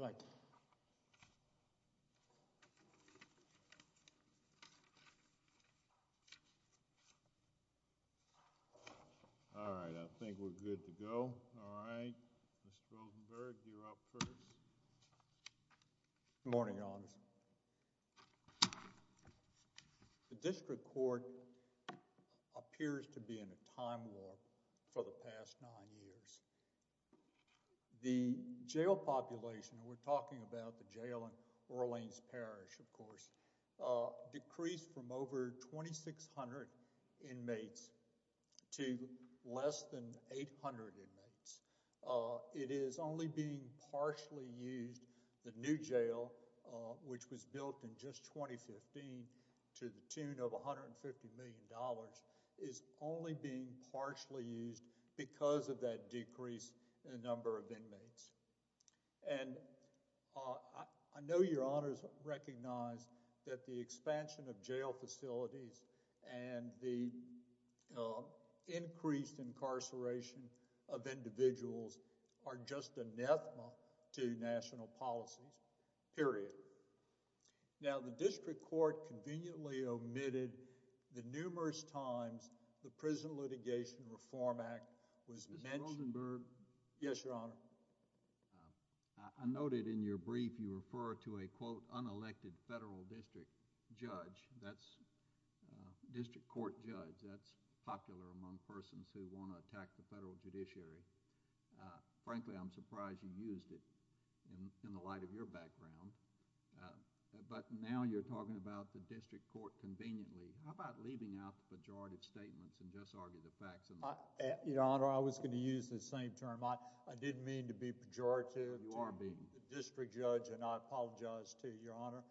All right, I think we're good to go. All right, Mr Rosenberg, you're up first. Good morning, Your Honor. The district court appears to be in a time warp for the past nine years. The jail population, and we're talking about the jail in Orleans Parish, of course, decreased from over 2,600 inmates to less than 800 inmates. It is only being partially used. The new jail, which was built in just 2015 to the tune of $150 million, is only being partially used because of that decrease in the number of inmates. And I know Your Honors recognize that the expansion of jail facilities and the increased incarceration of individuals are just anathema to national policies, period. Now, the district court conveniently omitted the numerous times the Prison Litigation Reform Act was mentioned. Mr. Rosenberg Yes, Your Honor. I noted in your brief you refer to a, quote, unelected federal district judge. That's district court judge. That's popular among persons who want to attack the federal judiciary. Frankly, I'm surprised you used it in the light of your background. But now you're talking about the district court conveniently. How about leaving out the pejorative statements and just argue the facts? Mr. Rosenberg Your Honor, I was going to use the same term. I didn't mean to be pejorative to the district judge, and I apologize to Your Honor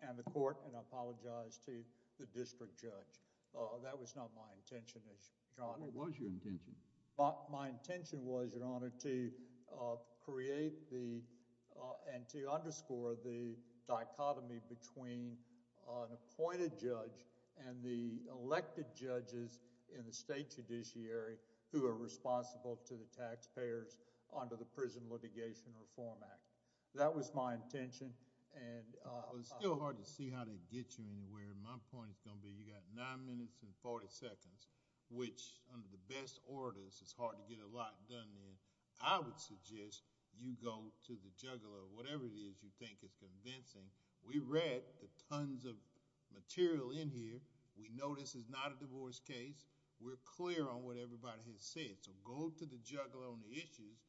and the court, and I apologize to the district judge. That was not my intention, Your Honor. Mr. Davis What was your intention? Mr. Rosenberg My intention was, Your Honor, to create the and to underscore the dichotomy between an appointed judge and the elected judges in the state judiciary who are responsible to the taxpayers under the Prison Litigation Reform Act. That was my intention. Mr. Davis It's still hard to see how they get you anywhere. My point is going to be you got 9 minutes and 40 seconds, which under the best orders is hard to get a lot done in. I would suggest you go to the juggler, whatever it is you think is convincing. We read the tons of material in here. We know this is not a divorce case. We're clear on what everybody has said. So go to the juggler on the issues,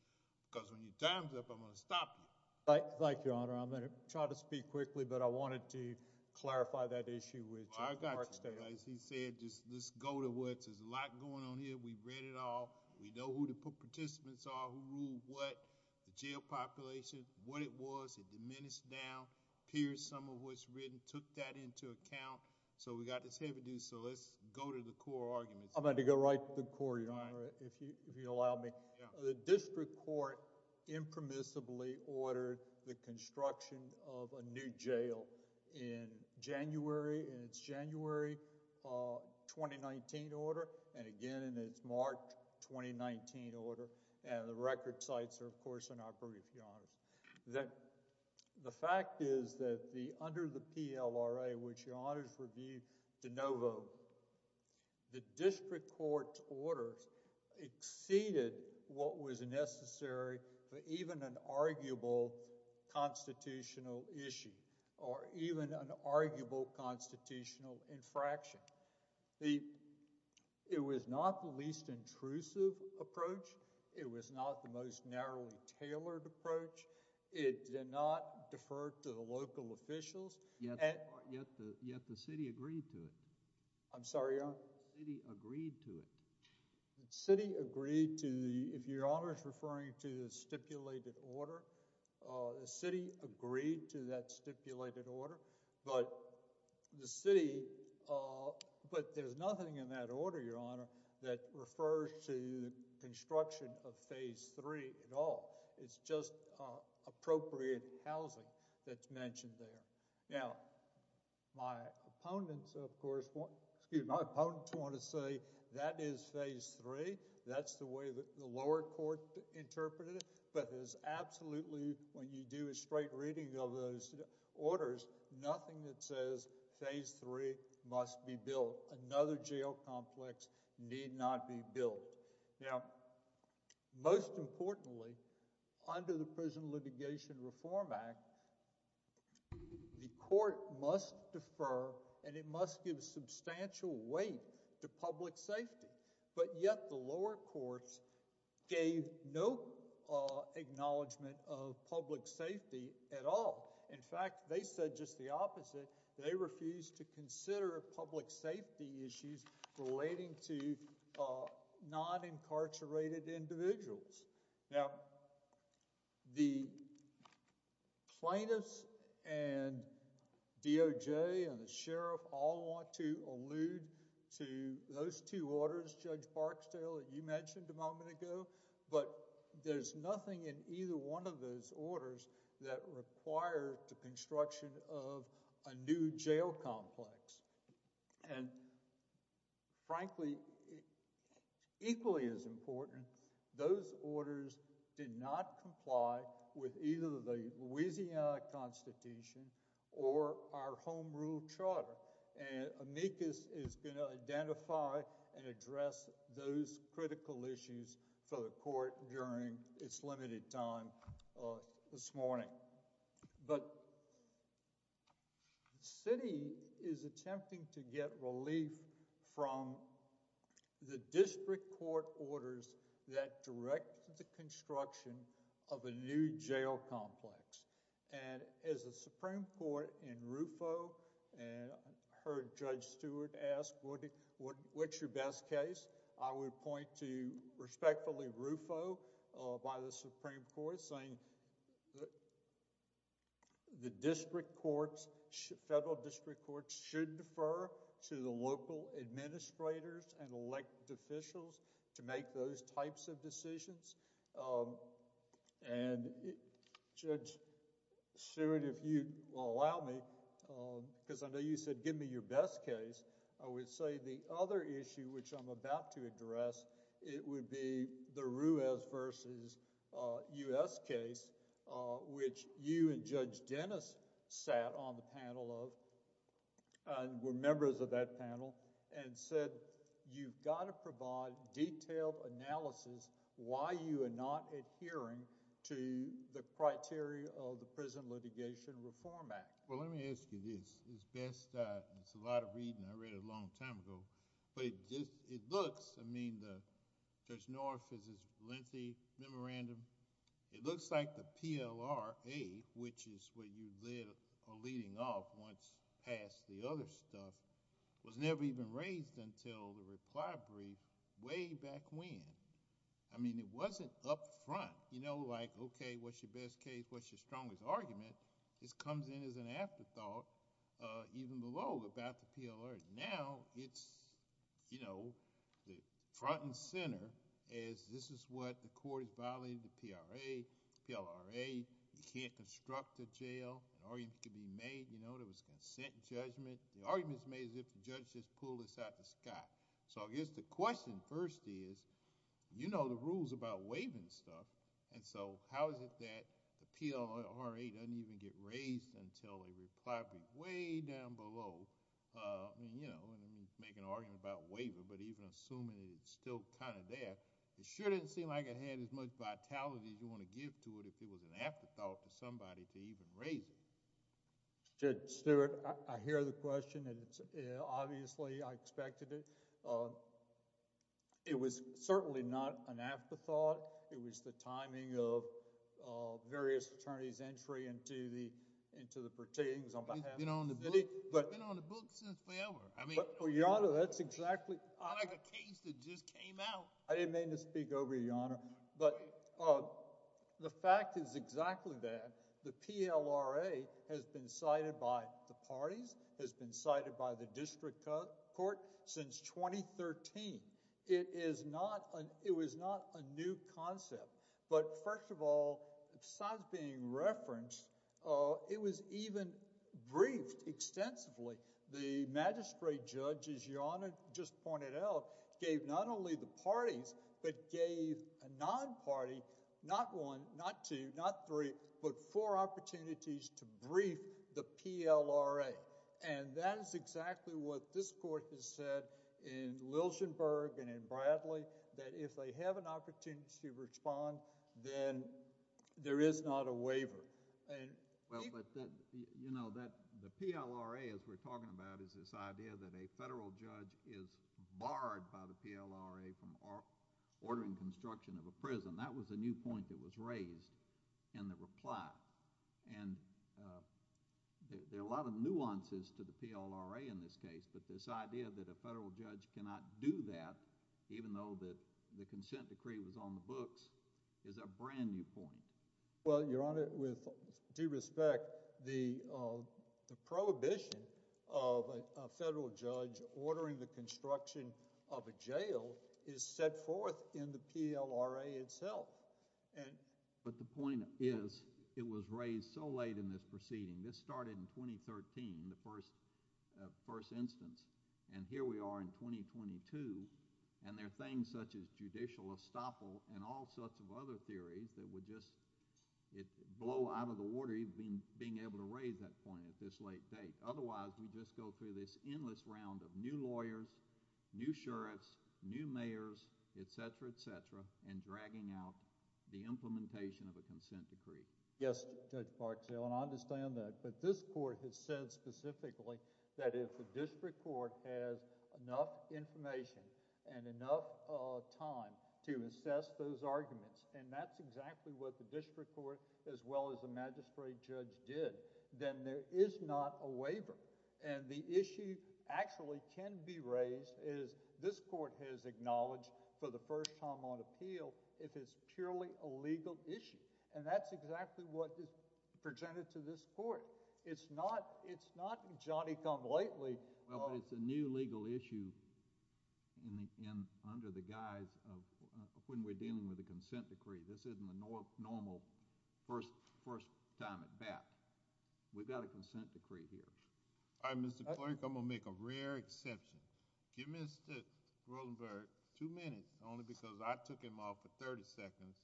because when your time's up, I'm going to stop you. Mr. Rosenberg Thank you, Your Honor. I'm going to try to speak quickly, but I wanted to clarify that issue with Judge Marksdale. Mr. Davis I got you. As he said, let's go to what? There's a lot going on here. We've read it all. We know who the participants are, who ruled what, the jail population, what it was. It diminished down, pierced some of what's written, took that into account. So we got this heavy duty, so let's go to the core arguments. Mr. Rosenberg I'm going to go right to the core, Your Honor, if you allow me. Mr. Davis Yeah. Mr. Rosenberg We're going to start with the construction of a new jail in January, in its January 2019 order, and again in its March 2019 order. And the record sites are, of course, in our brief, Your Honors. The fact is that under the PLRA, which Your Honors reviewed de novo, the district court orders exceeded what was necessary for even an arguable constitutional issue or even an arguable constitutional infraction. It was not the least intrusive approach. It was not the most narrowly tailored approach. It did not defer to the local officials. Mr. Davis Yet the city agreed to it. Mr. Rosenberg The city agreed to the, if Your Honor is referring to the stipulated order, the city agreed to that stipulated order, but the city, but there's nothing in that order, Your Honor, that refers to the construction of Phase 3 at all. It's just appropriate housing that's mentioned there. Now, my opponents, of course, excuse me, my opponents want to say that is Phase 3. That's the way that the lower court interpreted it, but there's absolutely, when you do a straight reading of those orders, nothing that says Phase 3 must be built. Another jail complex need not be built. Now, most importantly, under the Prison Litigation Reform Act, the court must defer and it must give substantial weight to public safety, but yet the lower courts gave no acknowledgement of public safety at all. In fact, they said just the opposite. They refused to consider public safety issues relating to non-incarcerated individuals. Now, the plaintiffs and DOJ and the sheriff all want to allude to those two orders, Judge Barksdale, that you mentioned a moment ago, but there's nothing in either one of those And frankly, equally as important, those orders did not comply with either the Louisiana Constitution or our Home Rule Charter, and amicus is going to identify and address those critical issues for the court during its limited time this morning. But the city is attempting to get relief from the district court orders that directed the construction of a new jail complex, and as a Supreme Court in RUFO, I heard Judge Stewart ask, what's your best case? I would point to respectfully RUFO by the Supreme Court saying the district courts, federal district courts should defer to the local administrators and elected officials to make those types of decisions, and Judge Stewart, if you allow me, because I know you said give me your best case, I would say the other issue which I'm about to address, it would be the Ruiz versus U.S. case, which you and Judge Dennis sat on the panel of, were members of that panel, and said you've got to provide detailed analysis why you are not adhering to the criteria of the Prison Litigation Reform Act. Well, let me ask you this. It's a lot of reading. I read it a long time ago. But it looks, I mean, Judge North has his lengthy memorandum. It looks like the PLRA, which is what you're leading off once past the other stuff, was never even raised until the reply brief way back when. I mean, it wasn't up front, you know, like, okay, what's your best case, what's your strongest argument? This comes in as an afterthought even below about the PLRA. Now, it's, you know, the front and center is this is what the court is violating the PLRA. You can't construct a jail. An argument can be made, you know, there was a consent judgment. The argument is made as if the judge just pulled this out of the sky. So I guess the question first is, you know the rules about waiving stuff, and so how is it that the PLRA doesn't even get raised until a reply brief way down below? I mean, you know, make an argument about waiver, but even assuming it's still kind of there, it sure didn't seem like it had as much vitality as you want to give to it if it was an afterthought to somebody to even raise it. Judge Stewart, I hear the question, and obviously I expected it. It was certainly not an afterthought. It was the timing of various attorneys' entry into the proceedings on behalf of the city. It's been on the books since forever. Your Honor, that's exactly like a case that just came out. I didn't mean to speak over you, Your Honor, but the fact is exactly that. The PLRA has been cited by the parties, has been cited by the parties. It was not a new concept, but first of all, besides being referenced, it was even briefed extensively. The magistrate judge, as Your Honor just pointed out, gave not only the parties, but gave a non-party, not one, not two, not three, but four opportunities to brief the PLRA, and that is exactly what this Court has said in Liljenburg and in Bradley that if they have an opportunity to respond, then there is not a waiver. The PLRA, as we're talking about, is this idea that a federal judge is barred by the PLRA from ordering construction of a prison. That was a new point that was raised in the reply. There are a lot of nuances to the PLRA in this case, but this idea that a federal judge cannot do that, even though the consent decree was on the books, is a brand new point. Well, Your Honor, with due respect, the prohibition of a federal judge ordering the construction of a jail is set forth in the PLRA itself. But the point is, it was raised so late in this proceeding. This started in 2013, the first instance, and here we are in 2022, and there are things such as judicial estoppel and all sorts of other theories that would just blow out of the water even being able to raise that point at this late date. Otherwise, we just go through this endless round of new lawyers, new sheriffs, new mayors, et cetera, et cetera, and dragging out the implementation of a consent decree. Yes, Judge Barksdale, and I understand that. But this court has said specifically that if the district court has enough information and enough time to assess those arguments, and that's exactly what the district court as well as the magistrate judge did, then there is not a waiver. And the issue actually can be raised, as this court has acknowledged for the first time on appeal, if it's purely a legal issue. And that's exactly what is presented to this court. It's not Johnny-come-lately. Well, but it's a new legal issue under the guise of when we're dealing with a consent decree. This isn't the normal first time at bat. We've got a consent decree here. All right, Mr. Clerk, I'm going to make a rare exception. Give Mr. Rosenberg two minutes, only because I took him off for 30 seconds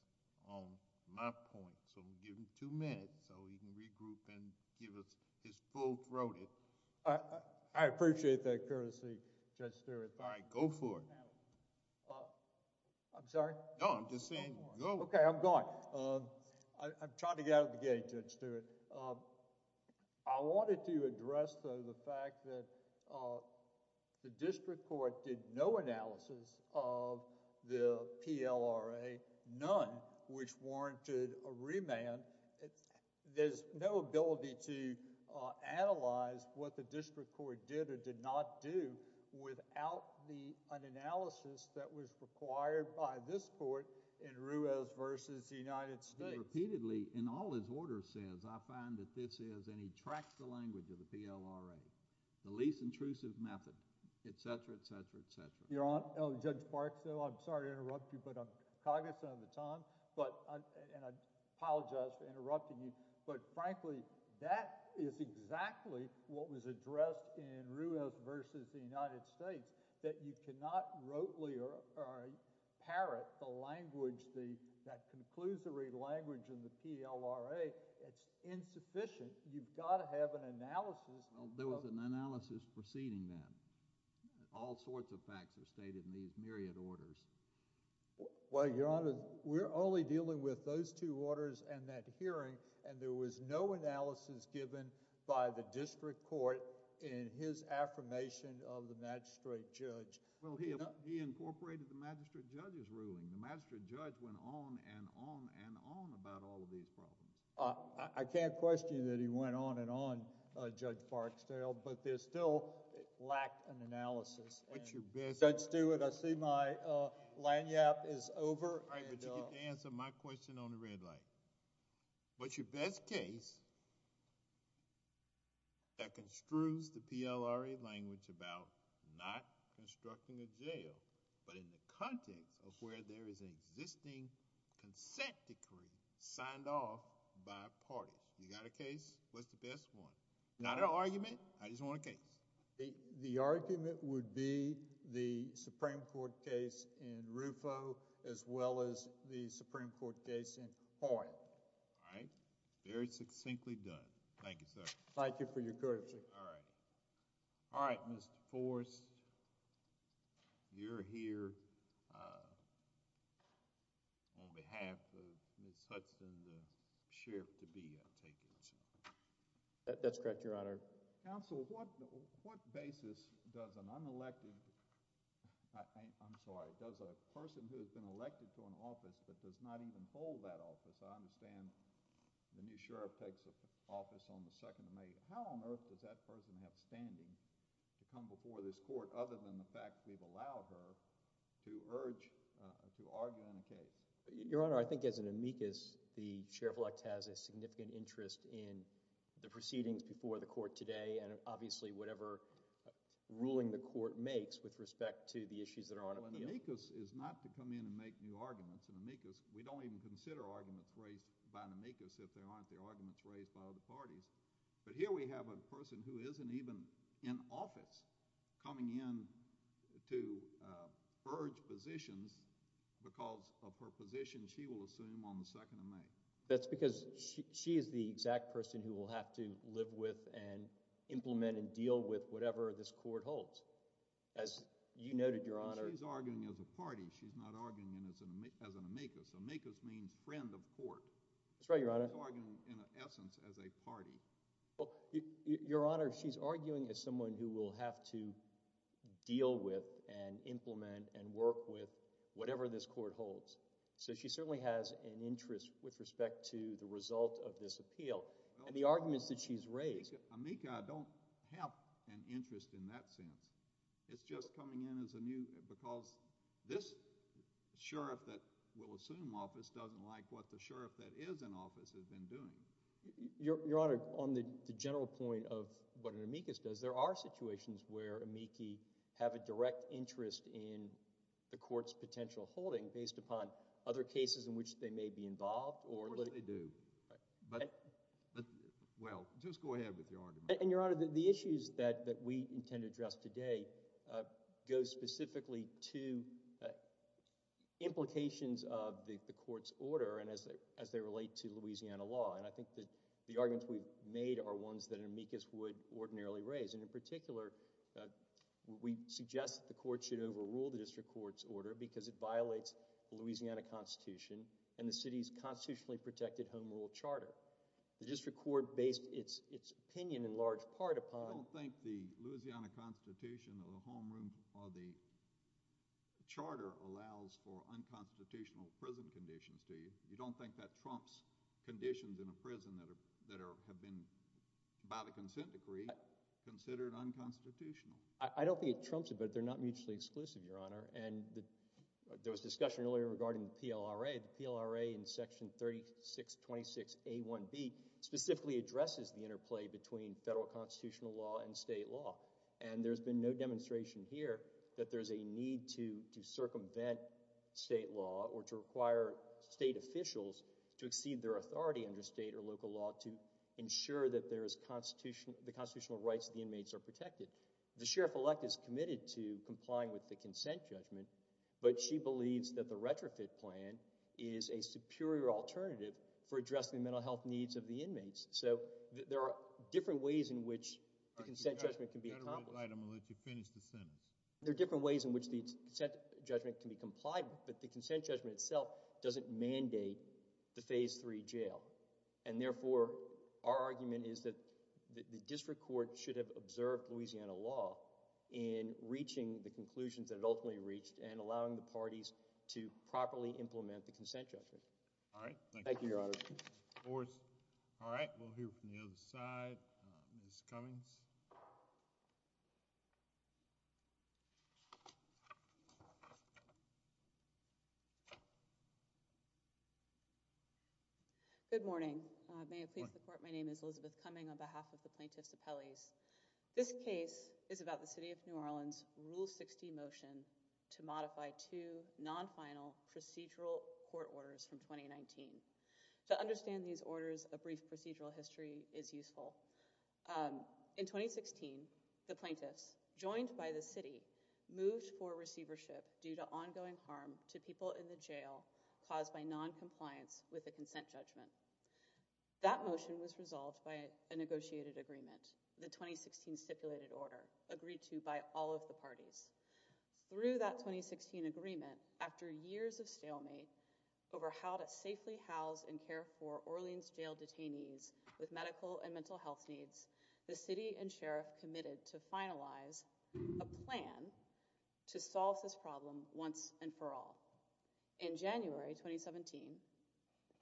on my point. So I'm going to give him two minutes so he can regroup and give us his full throated... I appreciate that courtesy, Judge Stewart. All right, go for it. I'm sorry? No, I'm just saying go. Okay, I'm going. I'm trying to get out of the gate, Judge Stewart. I wanted to address the fact that the district court did no analysis of the PLRA, none, which warranted a remand. There's no ability to analyze what the district court did or did not do without an analysis that was required by this court in Ruiz v. United States. He repeatedly, in all his orders, says, I find that this is, and he tracks the language of the PLRA, the least intrusive method, etc., etc., etc. Your Honor, Judge Parksville, I'm sorry to interrupt you, but I'm cognizant of the time, and I apologize for interrupting you, but frankly, that is exactly what was stated in those two orders in United States, that you cannot rotely parrot the language, that conclusory language in the PLRA. It's insufficient. You've got to have an analysis. Well, there was an analysis preceding that. All sorts of facts are stated in these myriad orders. Well, Your Honor, we're only dealing with those two orders and that hearing, and there was no analysis given by the district court in his affirmation of the magistrate judge. Well, he incorporated the magistrate judge's ruling. The magistrate judge went on and on and on about all of these problems. I can't question that he went on and on, Judge Parksville, but there still lacked an analysis. What's your best... Judge Stewart, I see my lanyard is over. All right, but you get to answer my question on the red light. What's your best case that construes the PLRA language about not constructing a jail, but in the context of where there is an existing consent decree signed off by parties? You got a case? What's the best one? Not an argument. I just want a case. The argument would be the Supreme Court case in Rufo as well as the Supreme Court case in Hoyle. All right. Very succinctly done. Thank you, sir. Thank you for your courtesy. All right. All right, Mr. Forrest, you're here on behalf of Ms. Hudson, the sheriff to be, I take it? That's correct, Your Honor. Counsel, what basis does an unelected... I'm sorry, does a person who has been elected to an office but does not even hold that office? I understand the new sheriff takes office on the 2nd of May. How on earth does that person have standing to come before this court other than the fact we've allowed her to urge, to argue on a case? Your Honor, I think as an amicus, the sheriff-elect has a significant interest in the proceedings before the court today and obviously whatever ruling the court makes with respect to the issues that are on appeal. Well, an amicus is not to come in and make new arguments. An amicus, we don't even consider arguments raised by an amicus if there aren't the arguments raised by other parties. But here we have a person who isn't even in office coming in to urge positions because of her position she will assume on the 2nd of May. That's because she is the exact person who will have to live with and implement and deal with whatever this court holds. As you noted, Your Honor... But she's arguing as a party. She's not arguing as an amicus. Amicus means friend of court. That's right, Your Honor. She's arguing in essence as a party. Well, Your Honor, she's arguing as someone who will have to deal with and implement and work with whatever this court holds. So she certainly has an interest with respect to the result of this appeal and the arguments that she's raised. Amica, I don't have an interest in that sense. It's just coming in as a new... because this sheriff that will assume office doesn't like what the sheriff that is in office has been doing. Your Honor, on the general point of what an amicus does, there are situations where amici have a direct interest in the court's potential holding based upon other cases in which they may be involved or... Of course they do. Right. But... well, just go ahead with your argument. And, Your Honor, the issues that we intend to address today go specifically to implications of the court's order and as they relate to Louisiana law. And I think that the arguments we've made are ones that an amicus would ordinarily raise. And in particular, we suggest that the court should overrule the district court's order because it violates the Louisiana Constitution and the city's constitutionally protected home rule charter. The district court based its opinion in large part upon... I don't think the Louisiana Constitution or the home rule or the charter allows for unconstitutional prison conditions to you. You don't think that trumps conditions in a prison that have been, by the consent decree, considered unconstitutional? I don't think it trumps it, but they're not mutually exclusive, Your Honor. And there was discussion earlier regarding the PLRA. The PLRA in Section 3626A1B specifically addresses the interplay between federal constitutional law and state law. And there's been no demonstration here that there's a need to circumvent state law or to require state officials to exceed their authority under state or local law to ensure that the constitutional rights of the inmates are protected. The sheriff-elect is committed to complying with the consent judgment, but she believes that the retrofit plan is a superior alternative for addressing the mental health needs of the inmates. So there are different ways in which the consent judgment can be accomplished. I'll let you finish the sentence. There are different ways in which the consent judgment can be complied with, but the consent judgment itself doesn't mandate the Phase III jail. And therefore, our argument is that the district court should have observed Louisiana law in reaching the conclusions that it ultimately reached and allowing the parties to properly implement the consent judgment. All right. Thank you. Thank you, Your Honor. All right. We'll hear from the other side. Ms. Cummings? Good morning. May it please the court, my name is Elizabeth Cummings on behalf of the plaintiffs' appellees. This case is about the city of New Orleans' Rule 60 motion to modify two non-final procedural court orders from 2019. To understand these orders, a brief procedural history is useful. In 2016, the plaintiffs, joined by the city, moved for noncompliance with the consent judgment. That motion was resolved by a negotiated agreement, the 2016 stipulated order, agreed to by all of the parties. Through that 2016 agreement, after years of stalemate over how to safely house and care for Orleans jail detainees with medical and mental health needs, the city and sheriff committed to finalize a plan to solve this problem once and for all. In January 2017,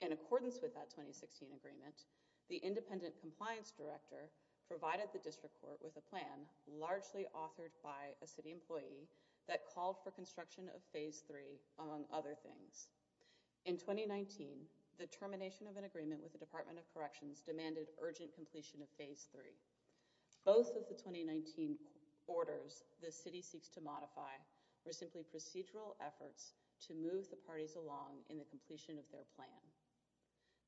in accordance with that 2016 agreement, the independent compliance director provided the district court with a plan largely authored by a city employee that called for construction of Phase 3, among other things. In 2019, the termination of an agreement with the Department of Corrections demanded urgent completion of Phase 3. Both of the 2019 orders the city seeks to modify were simply procedural efforts to move the parties along in the completion of their plan.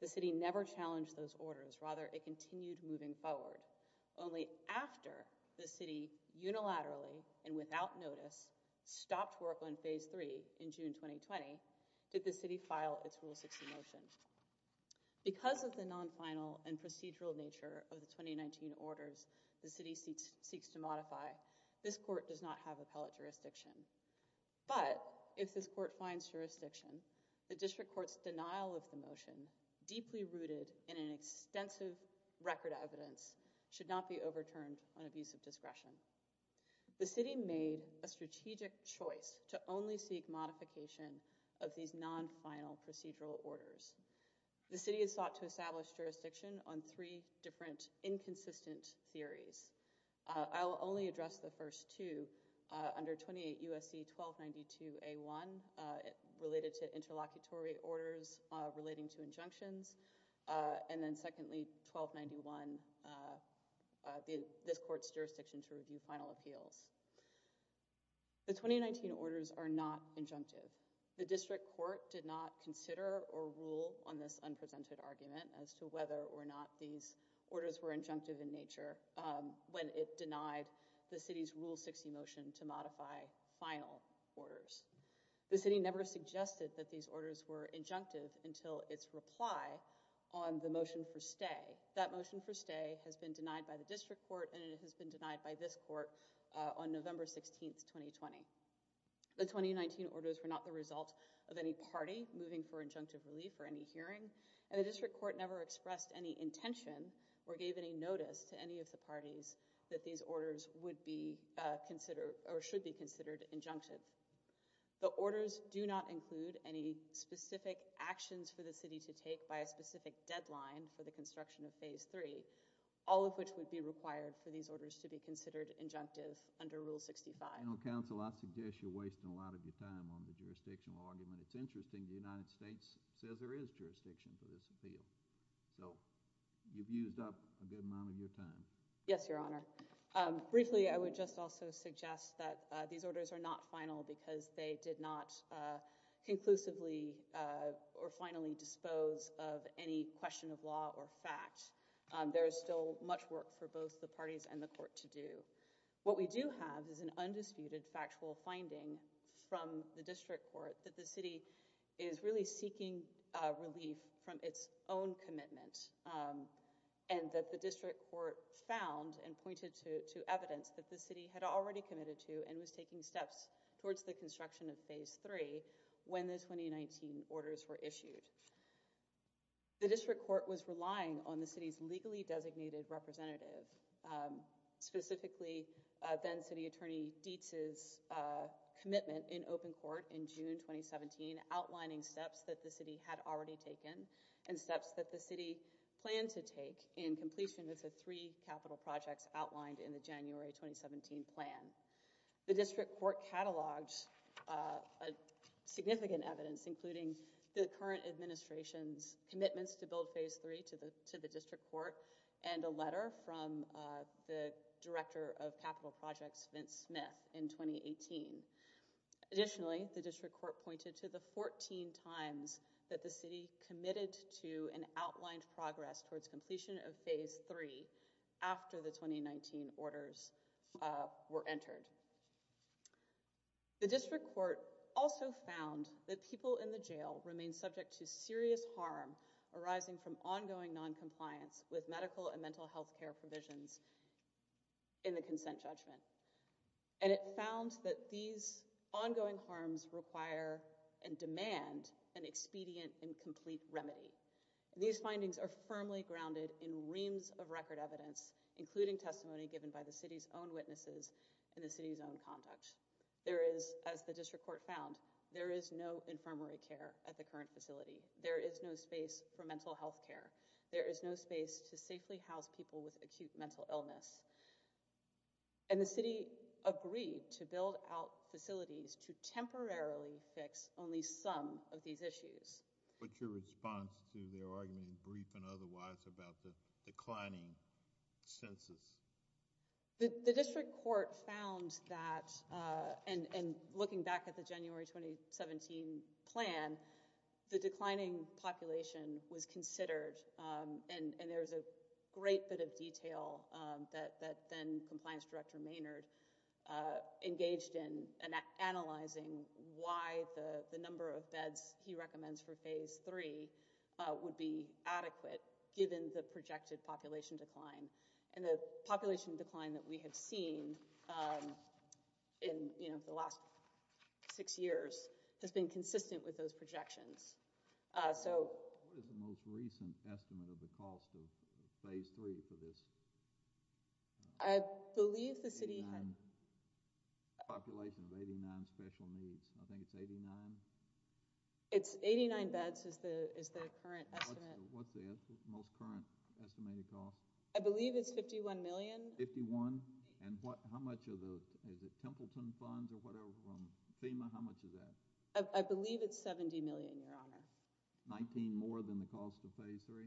The city never challenged those orders, rather it continued moving forward. Only after the city unilaterally and without notice stopped work on Phase 3 in June 2020 did the city file its Rule 60 motion. Because of the non-final and procedural nature of the 2019 orders the city seeks to modify, this court does not have appellate jurisdiction. But if this court finds jurisdiction, the district court's denial of the motion, deeply rooted in an extensive record of evidence, should not be overturned on abuse of discretion. The city made a strategic choice to only seek modification of these non-final procedural orders. The city has sought to establish jurisdiction on three different inconsistent theories. I will only address the first two under 28 USC 1292A1, related to interlocutory orders relating to injunctions, and then secondly 1291, this court's jurisdiction to review final appeals. The 2019 orders are not injunctive. The district court did not consider or rule on this unpresented argument as to whether or not these orders were injunctive in nature when it denied the city's Rule 60 motion to modify final orders. The city never suggested that these orders were injunctive until its reply on the motion for stay. That motion for stay has been denied by the district court and it has been denied by this court on November 16th, 2020. The 2019 orders were not the result of any party moving for injunctive relief or any hearing, and the district court never expressed any intention or gave any notice to any of the parties that these orders would be considered or should be considered injunctive. The orders do not include any specific actions for the city to take by a specific deadline for the construction of Phase 3, all of which would be required for these orders to be considered injunctive under Rule 65. General Counsel, I suggest you're wasting a lot of your time on the jurisdictional argument. It's interesting the United States says there is jurisdiction for this appeal, so you've used up a good amount of your time. Yes, Your Honor. Briefly, I would just also suggest that these orders are not final because they did not conclusively or finally dispose of any question of law or fact. There is still much work for both the parties and the court to do. What we do have is an undisputed factual finding from the district court that the city is really seeking relief from its own commitment and that the district court found and pointed to evidence that the city had already committed to and was taking steps towards the construction of Phase 3 when the 2019 orders were issued. The district court was relying on the city's legally designated representative, specifically then-City Attorney Dietz's commitment in open court in June 2017 outlining steps that the city had already taken and steps that the city planned to take in completion of the three capital projects outlined in the January 2017 plan. The district court cataloged significant evidence including the current administration's commitments to build Phase 3 to the district court and a letter from the director of capital projects, Vince Smith, in 2018. Additionally, the district court pointed to the 14 times that the city committed to and outlined progress towards completion of Phase 3 after the 2019 orders were entered. The district court also found that people in the jail remain subject to serious harm arising from ongoing noncompliance with medical and mental health care provisions in the consent judgment and it found that these ongoing harms require and demand an expedient and complete remedy. These findings are firmly grounded in reams of record evidence including testimony given by the city's own witnesses and the city's own conduct. There is, as the district court found, there is no infirmary care at the current facility. There is no space for mental health care. There is no space to safely house people with acute mental illness. And the city agreed to build out facilities to temporarily fix only some of these issues. What's your response to their argument, brief and otherwise, about the declining census? The district court found that, and looking back at the January 2017 plan, the declining population was considered and there's a great bit of detail that then compliance director Maynard engaged in analyzing why the number of beds he recommends for Phase 3 would be adequate given the projected population decline. And the population decline that we have seen in the last six years has been consistent with those projections. What is the most recent estimate of the cost of Phase 3 for this? I believe the city had... Population of 89 special needs. I think it's 89. It's 89 beds is the current estimate. What's the most current estimated cost? I believe it's 51 million. 51? And how much of the, is it Templeton funds or whatever from FEMA? How much is that? I believe it's 70 million, Your Honor. 19 more than the cost of Phase 3?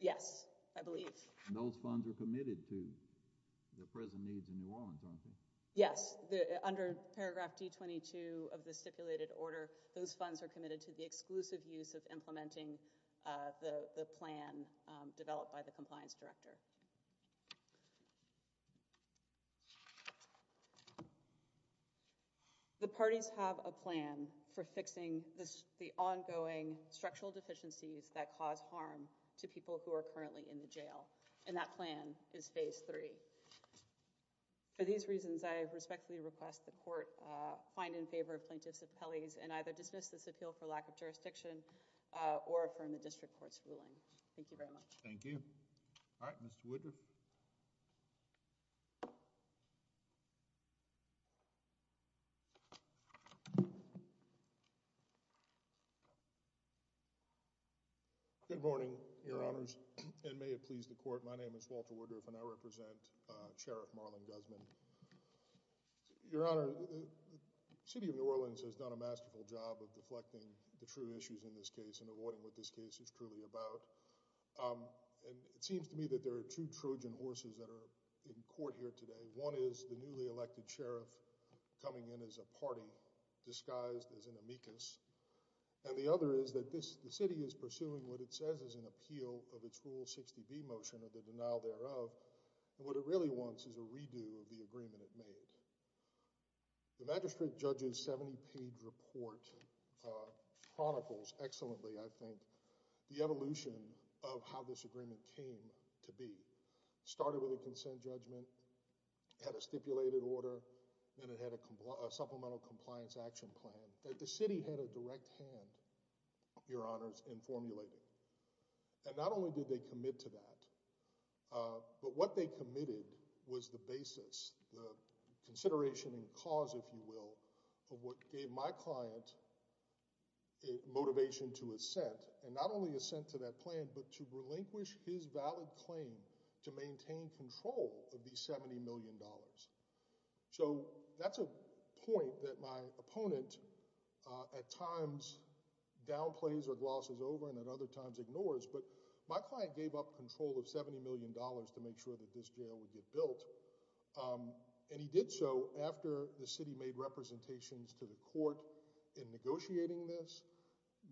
Yes, I believe. And those funds are committed to the present needs in New Orleans, aren't they? Yes, under paragraph D-22 of the stipulated order, those funds are committed to the exclusive use of implementing the plan developed by the compliance director. The parties have a plan for fixing the ongoing structural deficiencies that cause harm to people who are currently in the jail, and that plan is Phase 3. For these reasons, I respectfully request the court find in favor of plaintiffs' appellees and either dismiss this appeal for lack of jurisdiction or affirm the district court's ruling. Thank you very much. Thank you. All right, Mr. Woodruff. Good morning, Your Honors, and may it please the court. My name is Walter Woodruff, and I represent Sheriff Marlon Guzman. Your Honor, the City of New Orleans has done a masterful job of deflecting the true issues in this case and avoiding what this case is truly about, and it seems to me that there are two Trojan horses that are in court here today. One is the newly elected sheriff coming in as a party disguised as an amicus, and the other is that the city is pursuing what it says is an appeal of its Rule 60B motion or the denial thereof, and what it really wants is a redo of the agreement it made. The magistrate judge's 70-page report chronicles excellently, I think, the evolution of how this agreement came to be. It started with a consent judgment, had a stipulated order, and it had a supplemental compliance action plan that the city had a direct hand, Your Honors, in formulating. And not only did they commit to that, but what they committed was the basis, the consideration and cause, if you will, of what gave my client motivation to assent, and not only assent to that plan, but to relinquish his valid claim to maintain control of these $70 million. So that's a point that my opponent at times downplays or glosses over and at other times ignores, but my client gave up control of $70 million to make sure that this jail would get built, and he did so after the city made representations to the court in negotiating this,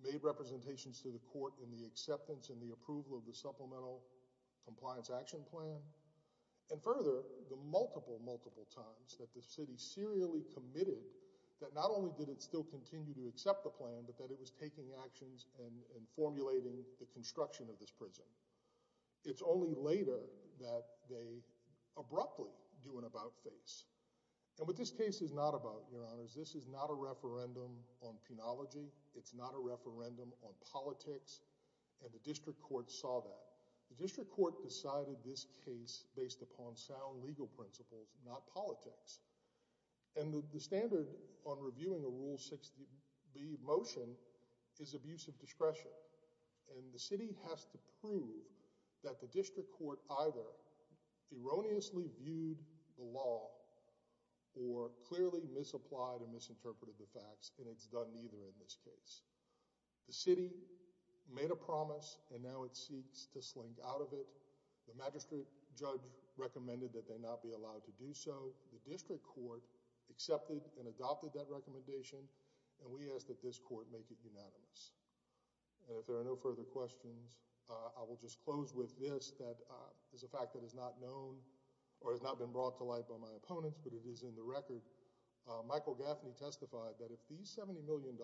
made representations to the court in the acceptance and the approval of the supplemental compliance action plan, and further, the multiple, multiple times that the city serially committed that not only did it still continue to accept the plan, but that it was taking actions and formulating the construction of this prison. It's only later that they abruptly do an about-face. And what this case is not about, Your Honors, this is not a referendum on penology. It's not a referendum on politics, and the district court saw that. The district court decided this case based upon sound legal principles, not politics. And the standard on reviewing a Rule 60B motion is abuse of discretion, and the city has to prove that the district court either erroneously viewed the law or clearly misapplied or misinterpreted the facts, and it's done neither in this case. The city made a promise, and now it seeks to slink out of it. The magistrate judge recommended that they not be allowed to do so. The district court accepted and adopted that recommendation, and we ask that this court make it unanimous. And if there are no further questions, I will just close with this that is a fact that is not known or has not been brought to light by my opponents, but it is in the record. Michael Gaffney testified that if these $70 million,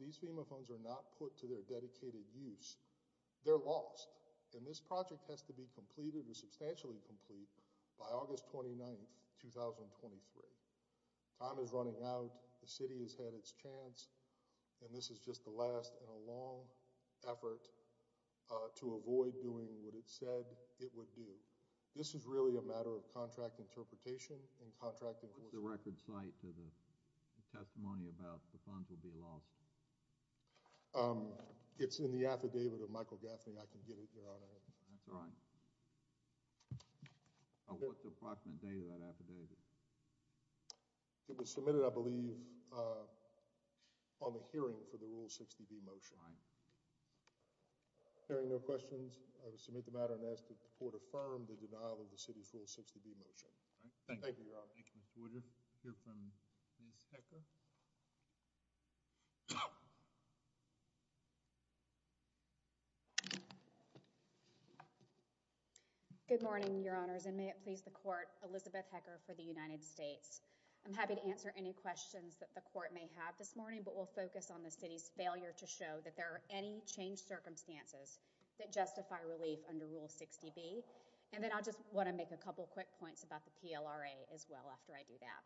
these FEMA funds are not put to their dedicated use, they're lost. And this project has to be completed or substantially complete by August 29, 2023. Time is running out. The city has had its chance, and this is just the last in a long effort to avoid doing what it said it would do. This is really a matter of contract interpretation and contract enforcement. What's the record cite to the testimony about the funds will be lost? It's in the affidavit of Michael Gaffney. I can get it, Your Honor. That's right. What's the approximate date of that affidavit? It was submitted, I believe, on the hearing for the Rule 60B motion. Right. Hearing no questions, I will submit the matter and ask that the court affirm the denial of the city's Rule 60B motion. Thank you, Your Honor. Thank you, Mr. Wooder. We'll hear from Ms. Hecker. Good morning, Your Honors, and may it please the court, Elizabeth Hecker for the United States. I'm happy to answer any questions that the court may have this morning, but we'll focus on the city's failure to show that there are any changed circumstances that justify relief under Rule 60B. And then I'll just want to make a couple quick points about the PLRA as well after I do that.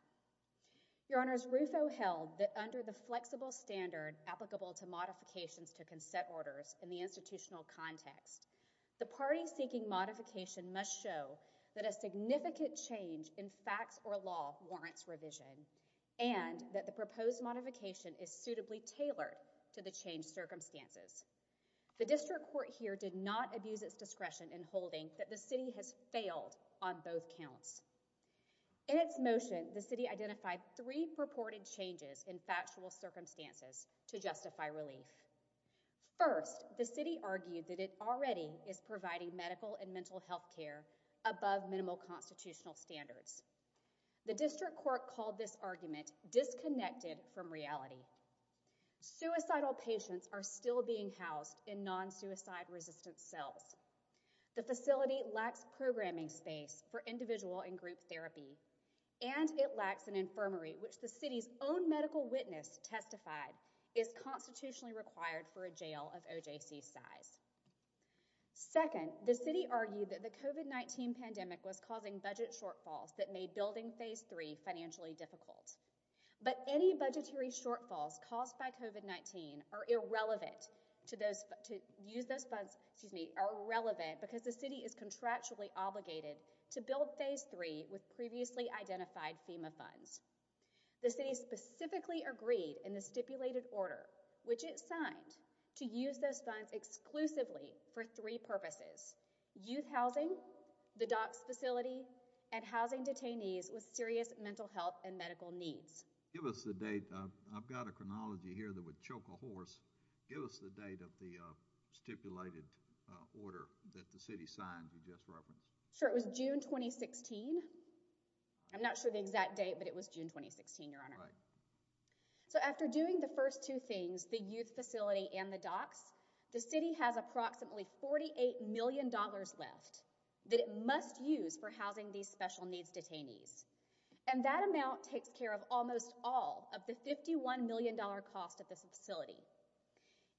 Your Honors, Rufo held that under the flexible standard applicable to modifications to consent orders in the institutional context, the party seeking modification must show that a significant change in facts or law warrants revision and that the proposed modification is suitably tailored to the changed circumstances. The district court here did not abuse its discretion in holding that the city has failed on both counts. In its motion, the city identified three purported changes in factual circumstances to justify relief. First, the city argued that it already is providing medical and mental health care above minimal constitutional standards. The district court called this argument disconnected from reality. Suicidal patients are still being housed in non-suicide resistant cells. The facility lacks programming space for individual and group therapy and it lacks an infirmary which the city's own medical witness testified is constitutionally required for a jail of OJC size. Second, the city argued that the COVID-19 pandemic was causing budget shortfalls that made building Phase 3 financially difficult. But any budgetary shortfalls caused by COVID-19 are irrelevant because the city is contractually obligated to build Phase 3 with previously identified FEMA funds. The city specifically agreed in the stipulated order, which it signed, to use those funds exclusively for three purposes. Youth housing, the DOCS facility, and housing detainees with serious mental health and medical needs. Give us the date. I've got a chronology here that would choke a horse. Give us the date of the stipulated order that the city signed you just referenced. Sure. It was June 2016. I'm not sure the exact date, but it was June 2016, Your Honor. Right. So after doing the first two things, the youth facility and the DOCS, the city has approximately $48 million left that it must use for housing these special needs detainees. And that amount takes care of almost all of the $51 million cost of this facility.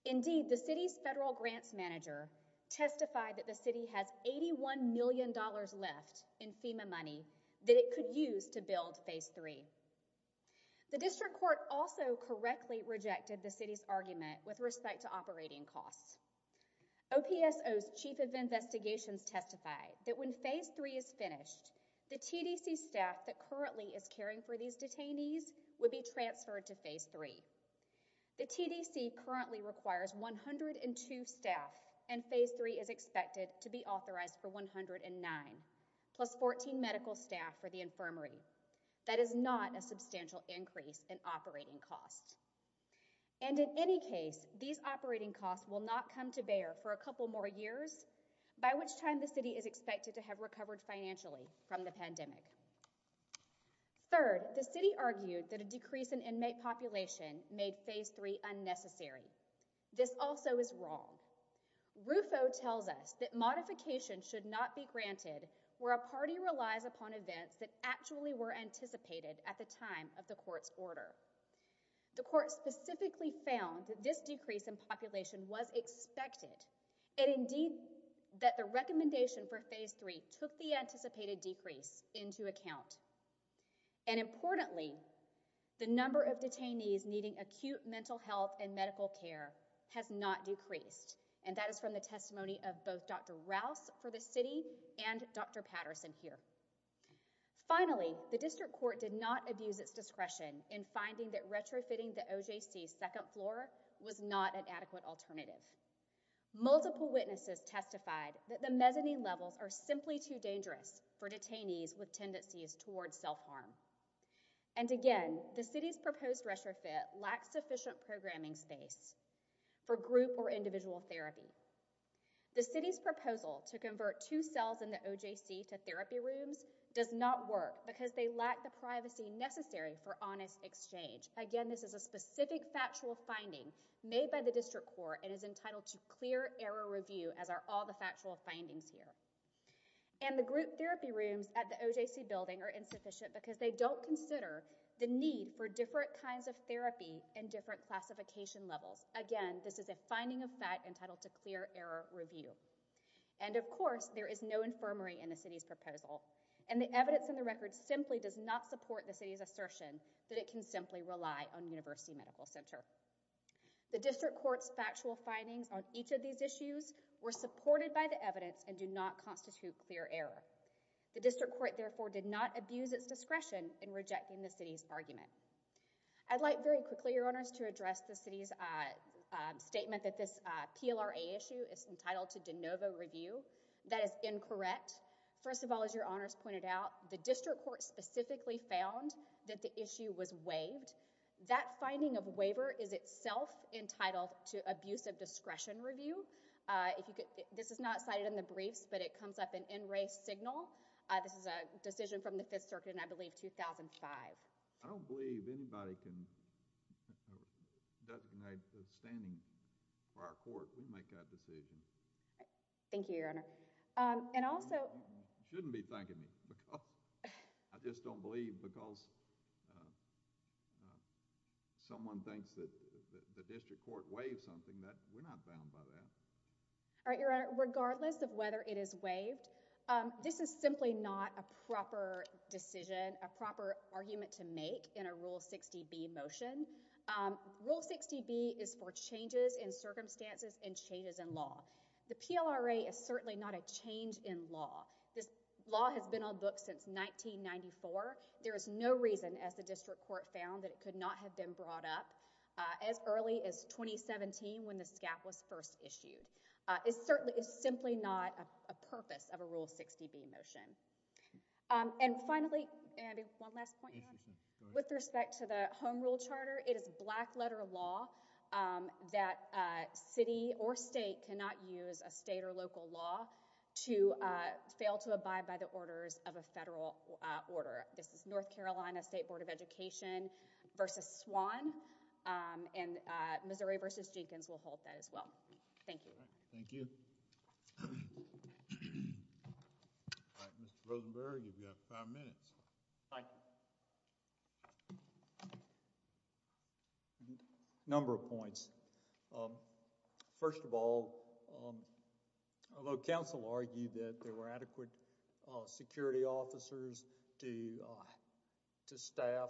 Indeed, the city's federal grants manager testified that the city has $81 million left in FEMA money that it could use to build Phase 3. The district court also correctly rejected the city's argument with respect to operating costs. OPSO's chief of investigations testified that when Phase 3 is finished, the TDC staff that currently is caring for these detainees would be transferred to Phase 3. The TDC currently requires 102 staff, and Phase 3 is expected to be authorized for 109 plus 14 medical staff for the infirmary. That is not a substantial increase in operating costs. And in any case, these operating costs will not come to bear for a couple more years, by which time the city is expected to have recovered financially from the pandemic. Third, the city argued that a decrease in inmate population made Phase 3 unnecessary. This also is wrong. RUFO tells us that modification should not be granted where a party relies upon events that actually were anticipated at the time of the court's order. The court specifically found that this decrease in population was expected, and indeed that the recommendation for Phase 3 took the anticipated decrease into account. And importantly, the number of detainees needing acute mental health and medical care has not decreased, and that is from the testimony of both Dr. Rouse for the city and Dr. Patterson here. Finally, the district court did not abuse its discretion in finding that retrofitting the OJC's second floor was not an adequate alternative. Multiple witnesses testified that the mezzanine levels are simply too dangerous for detainees with tendencies towards self-harm. And again, the city's proposed retrofit lacks sufficient programming space for group or individual therapy. The city's proposal to convert two cells in the OJC to therapy rooms does not work because they lack the privacy necessary for honest exchange. Again, this is a specific factual finding made by the district court and is entitled to clear error review, as are all the factual findings here. And the group therapy rooms at the OJC building are insufficient because they don't consider the need for different kinds of therapy and different classification levels. Again, this is a finding of fact entitled to clear error review. And, of course, there is no infirmary in the city's proposal, and the evidence in the record simply does not support the city's assertion that it can simply rely on University Medical Center. The district court's factual findings on each of these issues were supported by the evidence and do not constitute clear error. The district court, therefore, did not abuse its discretion in rejecting the city's argument. I'd like very quickly, Your Honors, to address the city's statement that this PLRA issue is entitled to de novo review. That is incorrect. First of all, as Your Honors pointed out, the district court specifically found that the issue was waived. That finding of waiver is itself entitled to abuse of discretion review. This is not cited in the briefs, but it comes up in NRA's signal. This is a decision from the Fifth Circuit in, I believe, 2005. I don't believe anybody can designate standing for our court. We make that decision. Thank you, Your Honor. And also... You shouldn't be thanking me. I just don't believe because someone thinks that the district court waived something, that we're not bound by that. All right, Your Honor. Regardless of whether it is waived, this is simply not a proper decision, a proper argument to make in a Rule 60B motion. Rule 60B is for changes in circumstances and changes in law. The PLRA is certainly not a change in law. This law has been on books since 1994. There is no reason, as the district court found, that it could not have been brought up as early as 2017 when the SCAP was first issued. It certainly is simply not a purpose of a Rule 60B motion. And finally, Andy, one last point. With respect to the Home Rule Charter, it is black-letter law that city or state cannot use a state or local law to fail to abide by the orders of a federal order. This is North Carolina State Board of Education v. Swan, and Missouri v. Jenkins will hold that as well. Thank you. Thank you. Mr. Rosenberg, you've got five minutes. Thank you. A number of points. First of all, although counsel argued that there were adequate security officers to staff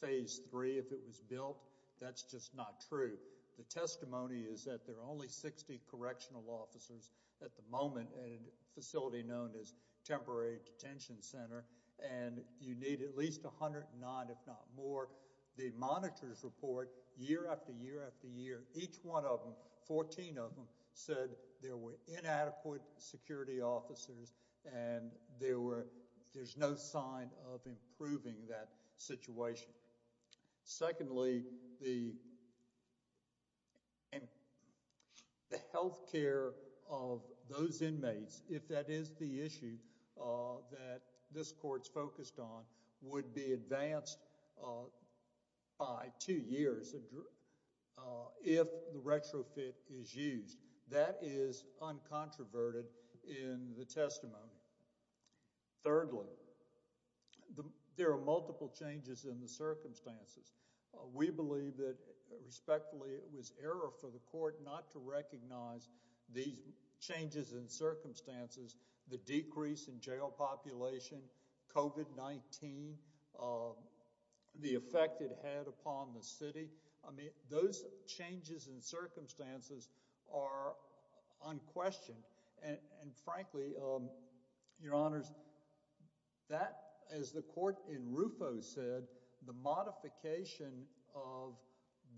Phase 3 if it was built, that's just not true. The testimony is that there are only 60 correctional officers at the moment at a facility known as Temporary Detention Center, and you need at least 109, if not more. The monitor's report, year after year after year, each one of them, 14 of them, said there were inadequate security officers and there's no sign of improving that situation. Secondly, the health care of those inmates, if that is the issue that this Court's focused on, would be advanced by two years if the retrofit is used. That is uncontroverted in the testimony. Thirdly, there are multiple changes in the circumstances. We believe that, respectfully, it was error for the Court not to recognize these changes in circumstances, the decrease in jail population, COVID-19, the effect it had upon the city. Those changes in circumstances are unquestioned. Frankly, Your Honors, that, as the Court in Rufo said, the modification of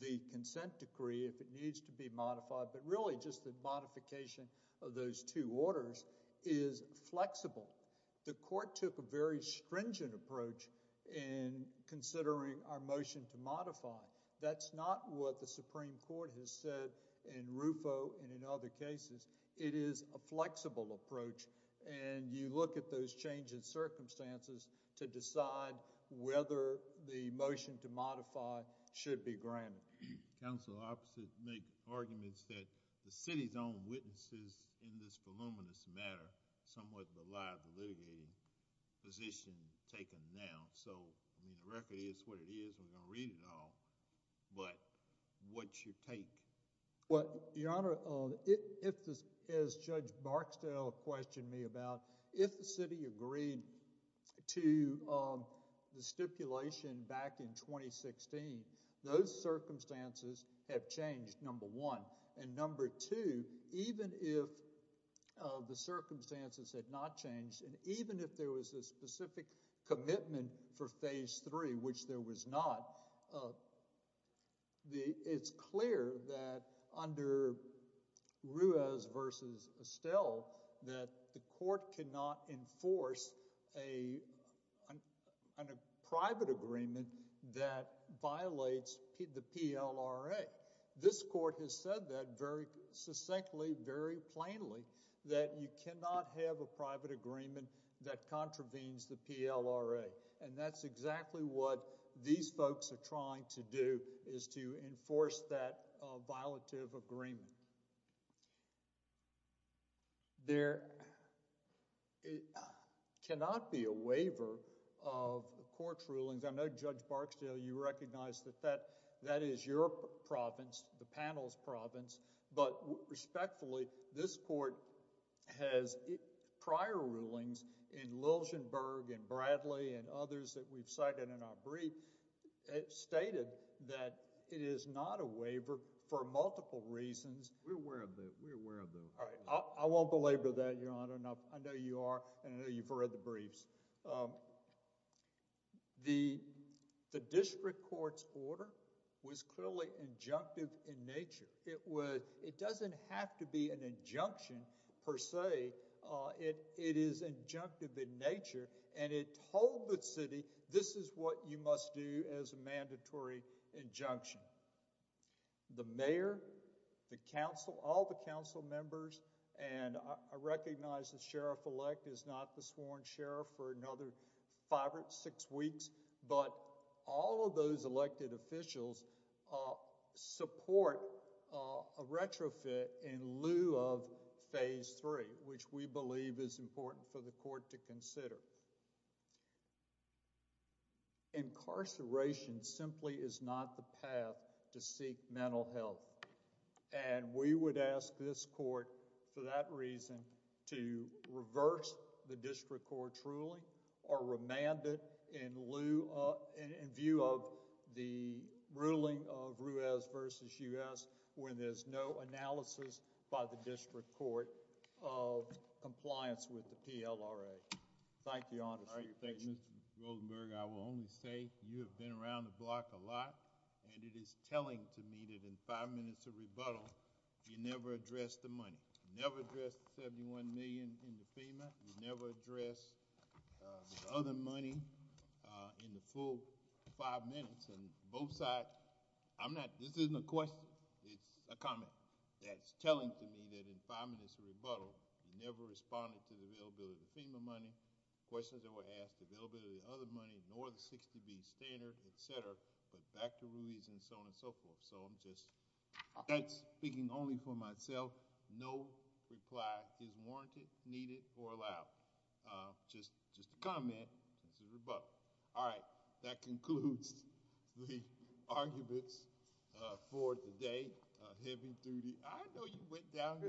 the consent decree, if it needs to be modified, but really just the modification of those two orders, is flexible. The Court took a very stringent approach in considering our motion to modify. That's not what the Supreme Court has said in Rufo and in other cases. It is a flexible approach, and you look at those changes in circumstances to decide whether the motion to modify should be granted. Counsel opposite make arguments that the city's own witnesses in this voluminous matter somewhat belie the litigating position taken now. The record is what it is. We're going to read it all, but what's your take? Your Honor, as Judge Barksdale questioned me about, if the city agreed to the stipulation back in 2016, those circumstances have changed, number one. Number two, even if the circumstances had not changed and even if there was a specific commitment for phase three, which there was not, it's clear that under Ruiz v. Estelle that the Court cannot enforce a private agreement that violates the PLRA. This Court has said that very succinctly, very plainly, that you cannot have a private agreement that contravenes the PLRA, and that's exactly what these folks are trying to do is to enforce that violative agreement. There cannot be a waiver of the Court's rulings. I know, Judge Barksdale, you recognize that that is your province, the panel's province, but respectfully, this Court has prior rulings in Liljenburg and Bradley and others that we've cited in our brief stated that it is not a waiver for multiple reasons. We're aware of that. All right. I won't belabor that, Your Honor. I know you are, and I know you've read the briefs. The district court's order was clearly injunctive in nature. It doesn't have to be an injunction per se. It is injunctive in nature, and it told the city, this is what you must do as a mandatory injunction. The mayor, the council, all the council members, and I recognize the sheriff-elect is not the sworn sheriff for another five or six weeks, but all of those elected officials support a retrofit in lieu of phase three, which we believe is important for the court to consider. Incarceration simply is not the path to seek mental health, and we would ask this court for that reason to reverse the district court's ruling or remand it in lieu of, in view of the ruling of Ruiz v. U.S. when there's no analysis by the district court of compliance with the PLRA. Thank you, Your Honor. Mr. Rosenberg, I will only say you have been around the block a lot, and it is telling to me that in five minutes of rebuttal, you never addressed the money. You never addressed the $71 million in the FEMA. You never addressed the other money in the full five minutes, and both sides, I'm not, this isn't a question. It's a comment that's telling to me that in five minutes of rebuttal, you never responded to the availability of the FEMA money, questions that were asked, availability of the other money, nor the 60B standard, et cetera, but back to Ruiz and so on and so forth. So I'm just, that's speaking only for myself. No reply is warranted, needed, or allowed. Just a comment. This is rebuttal. All right. That concludes the arguments for today. Heavy duty. I know you went down there.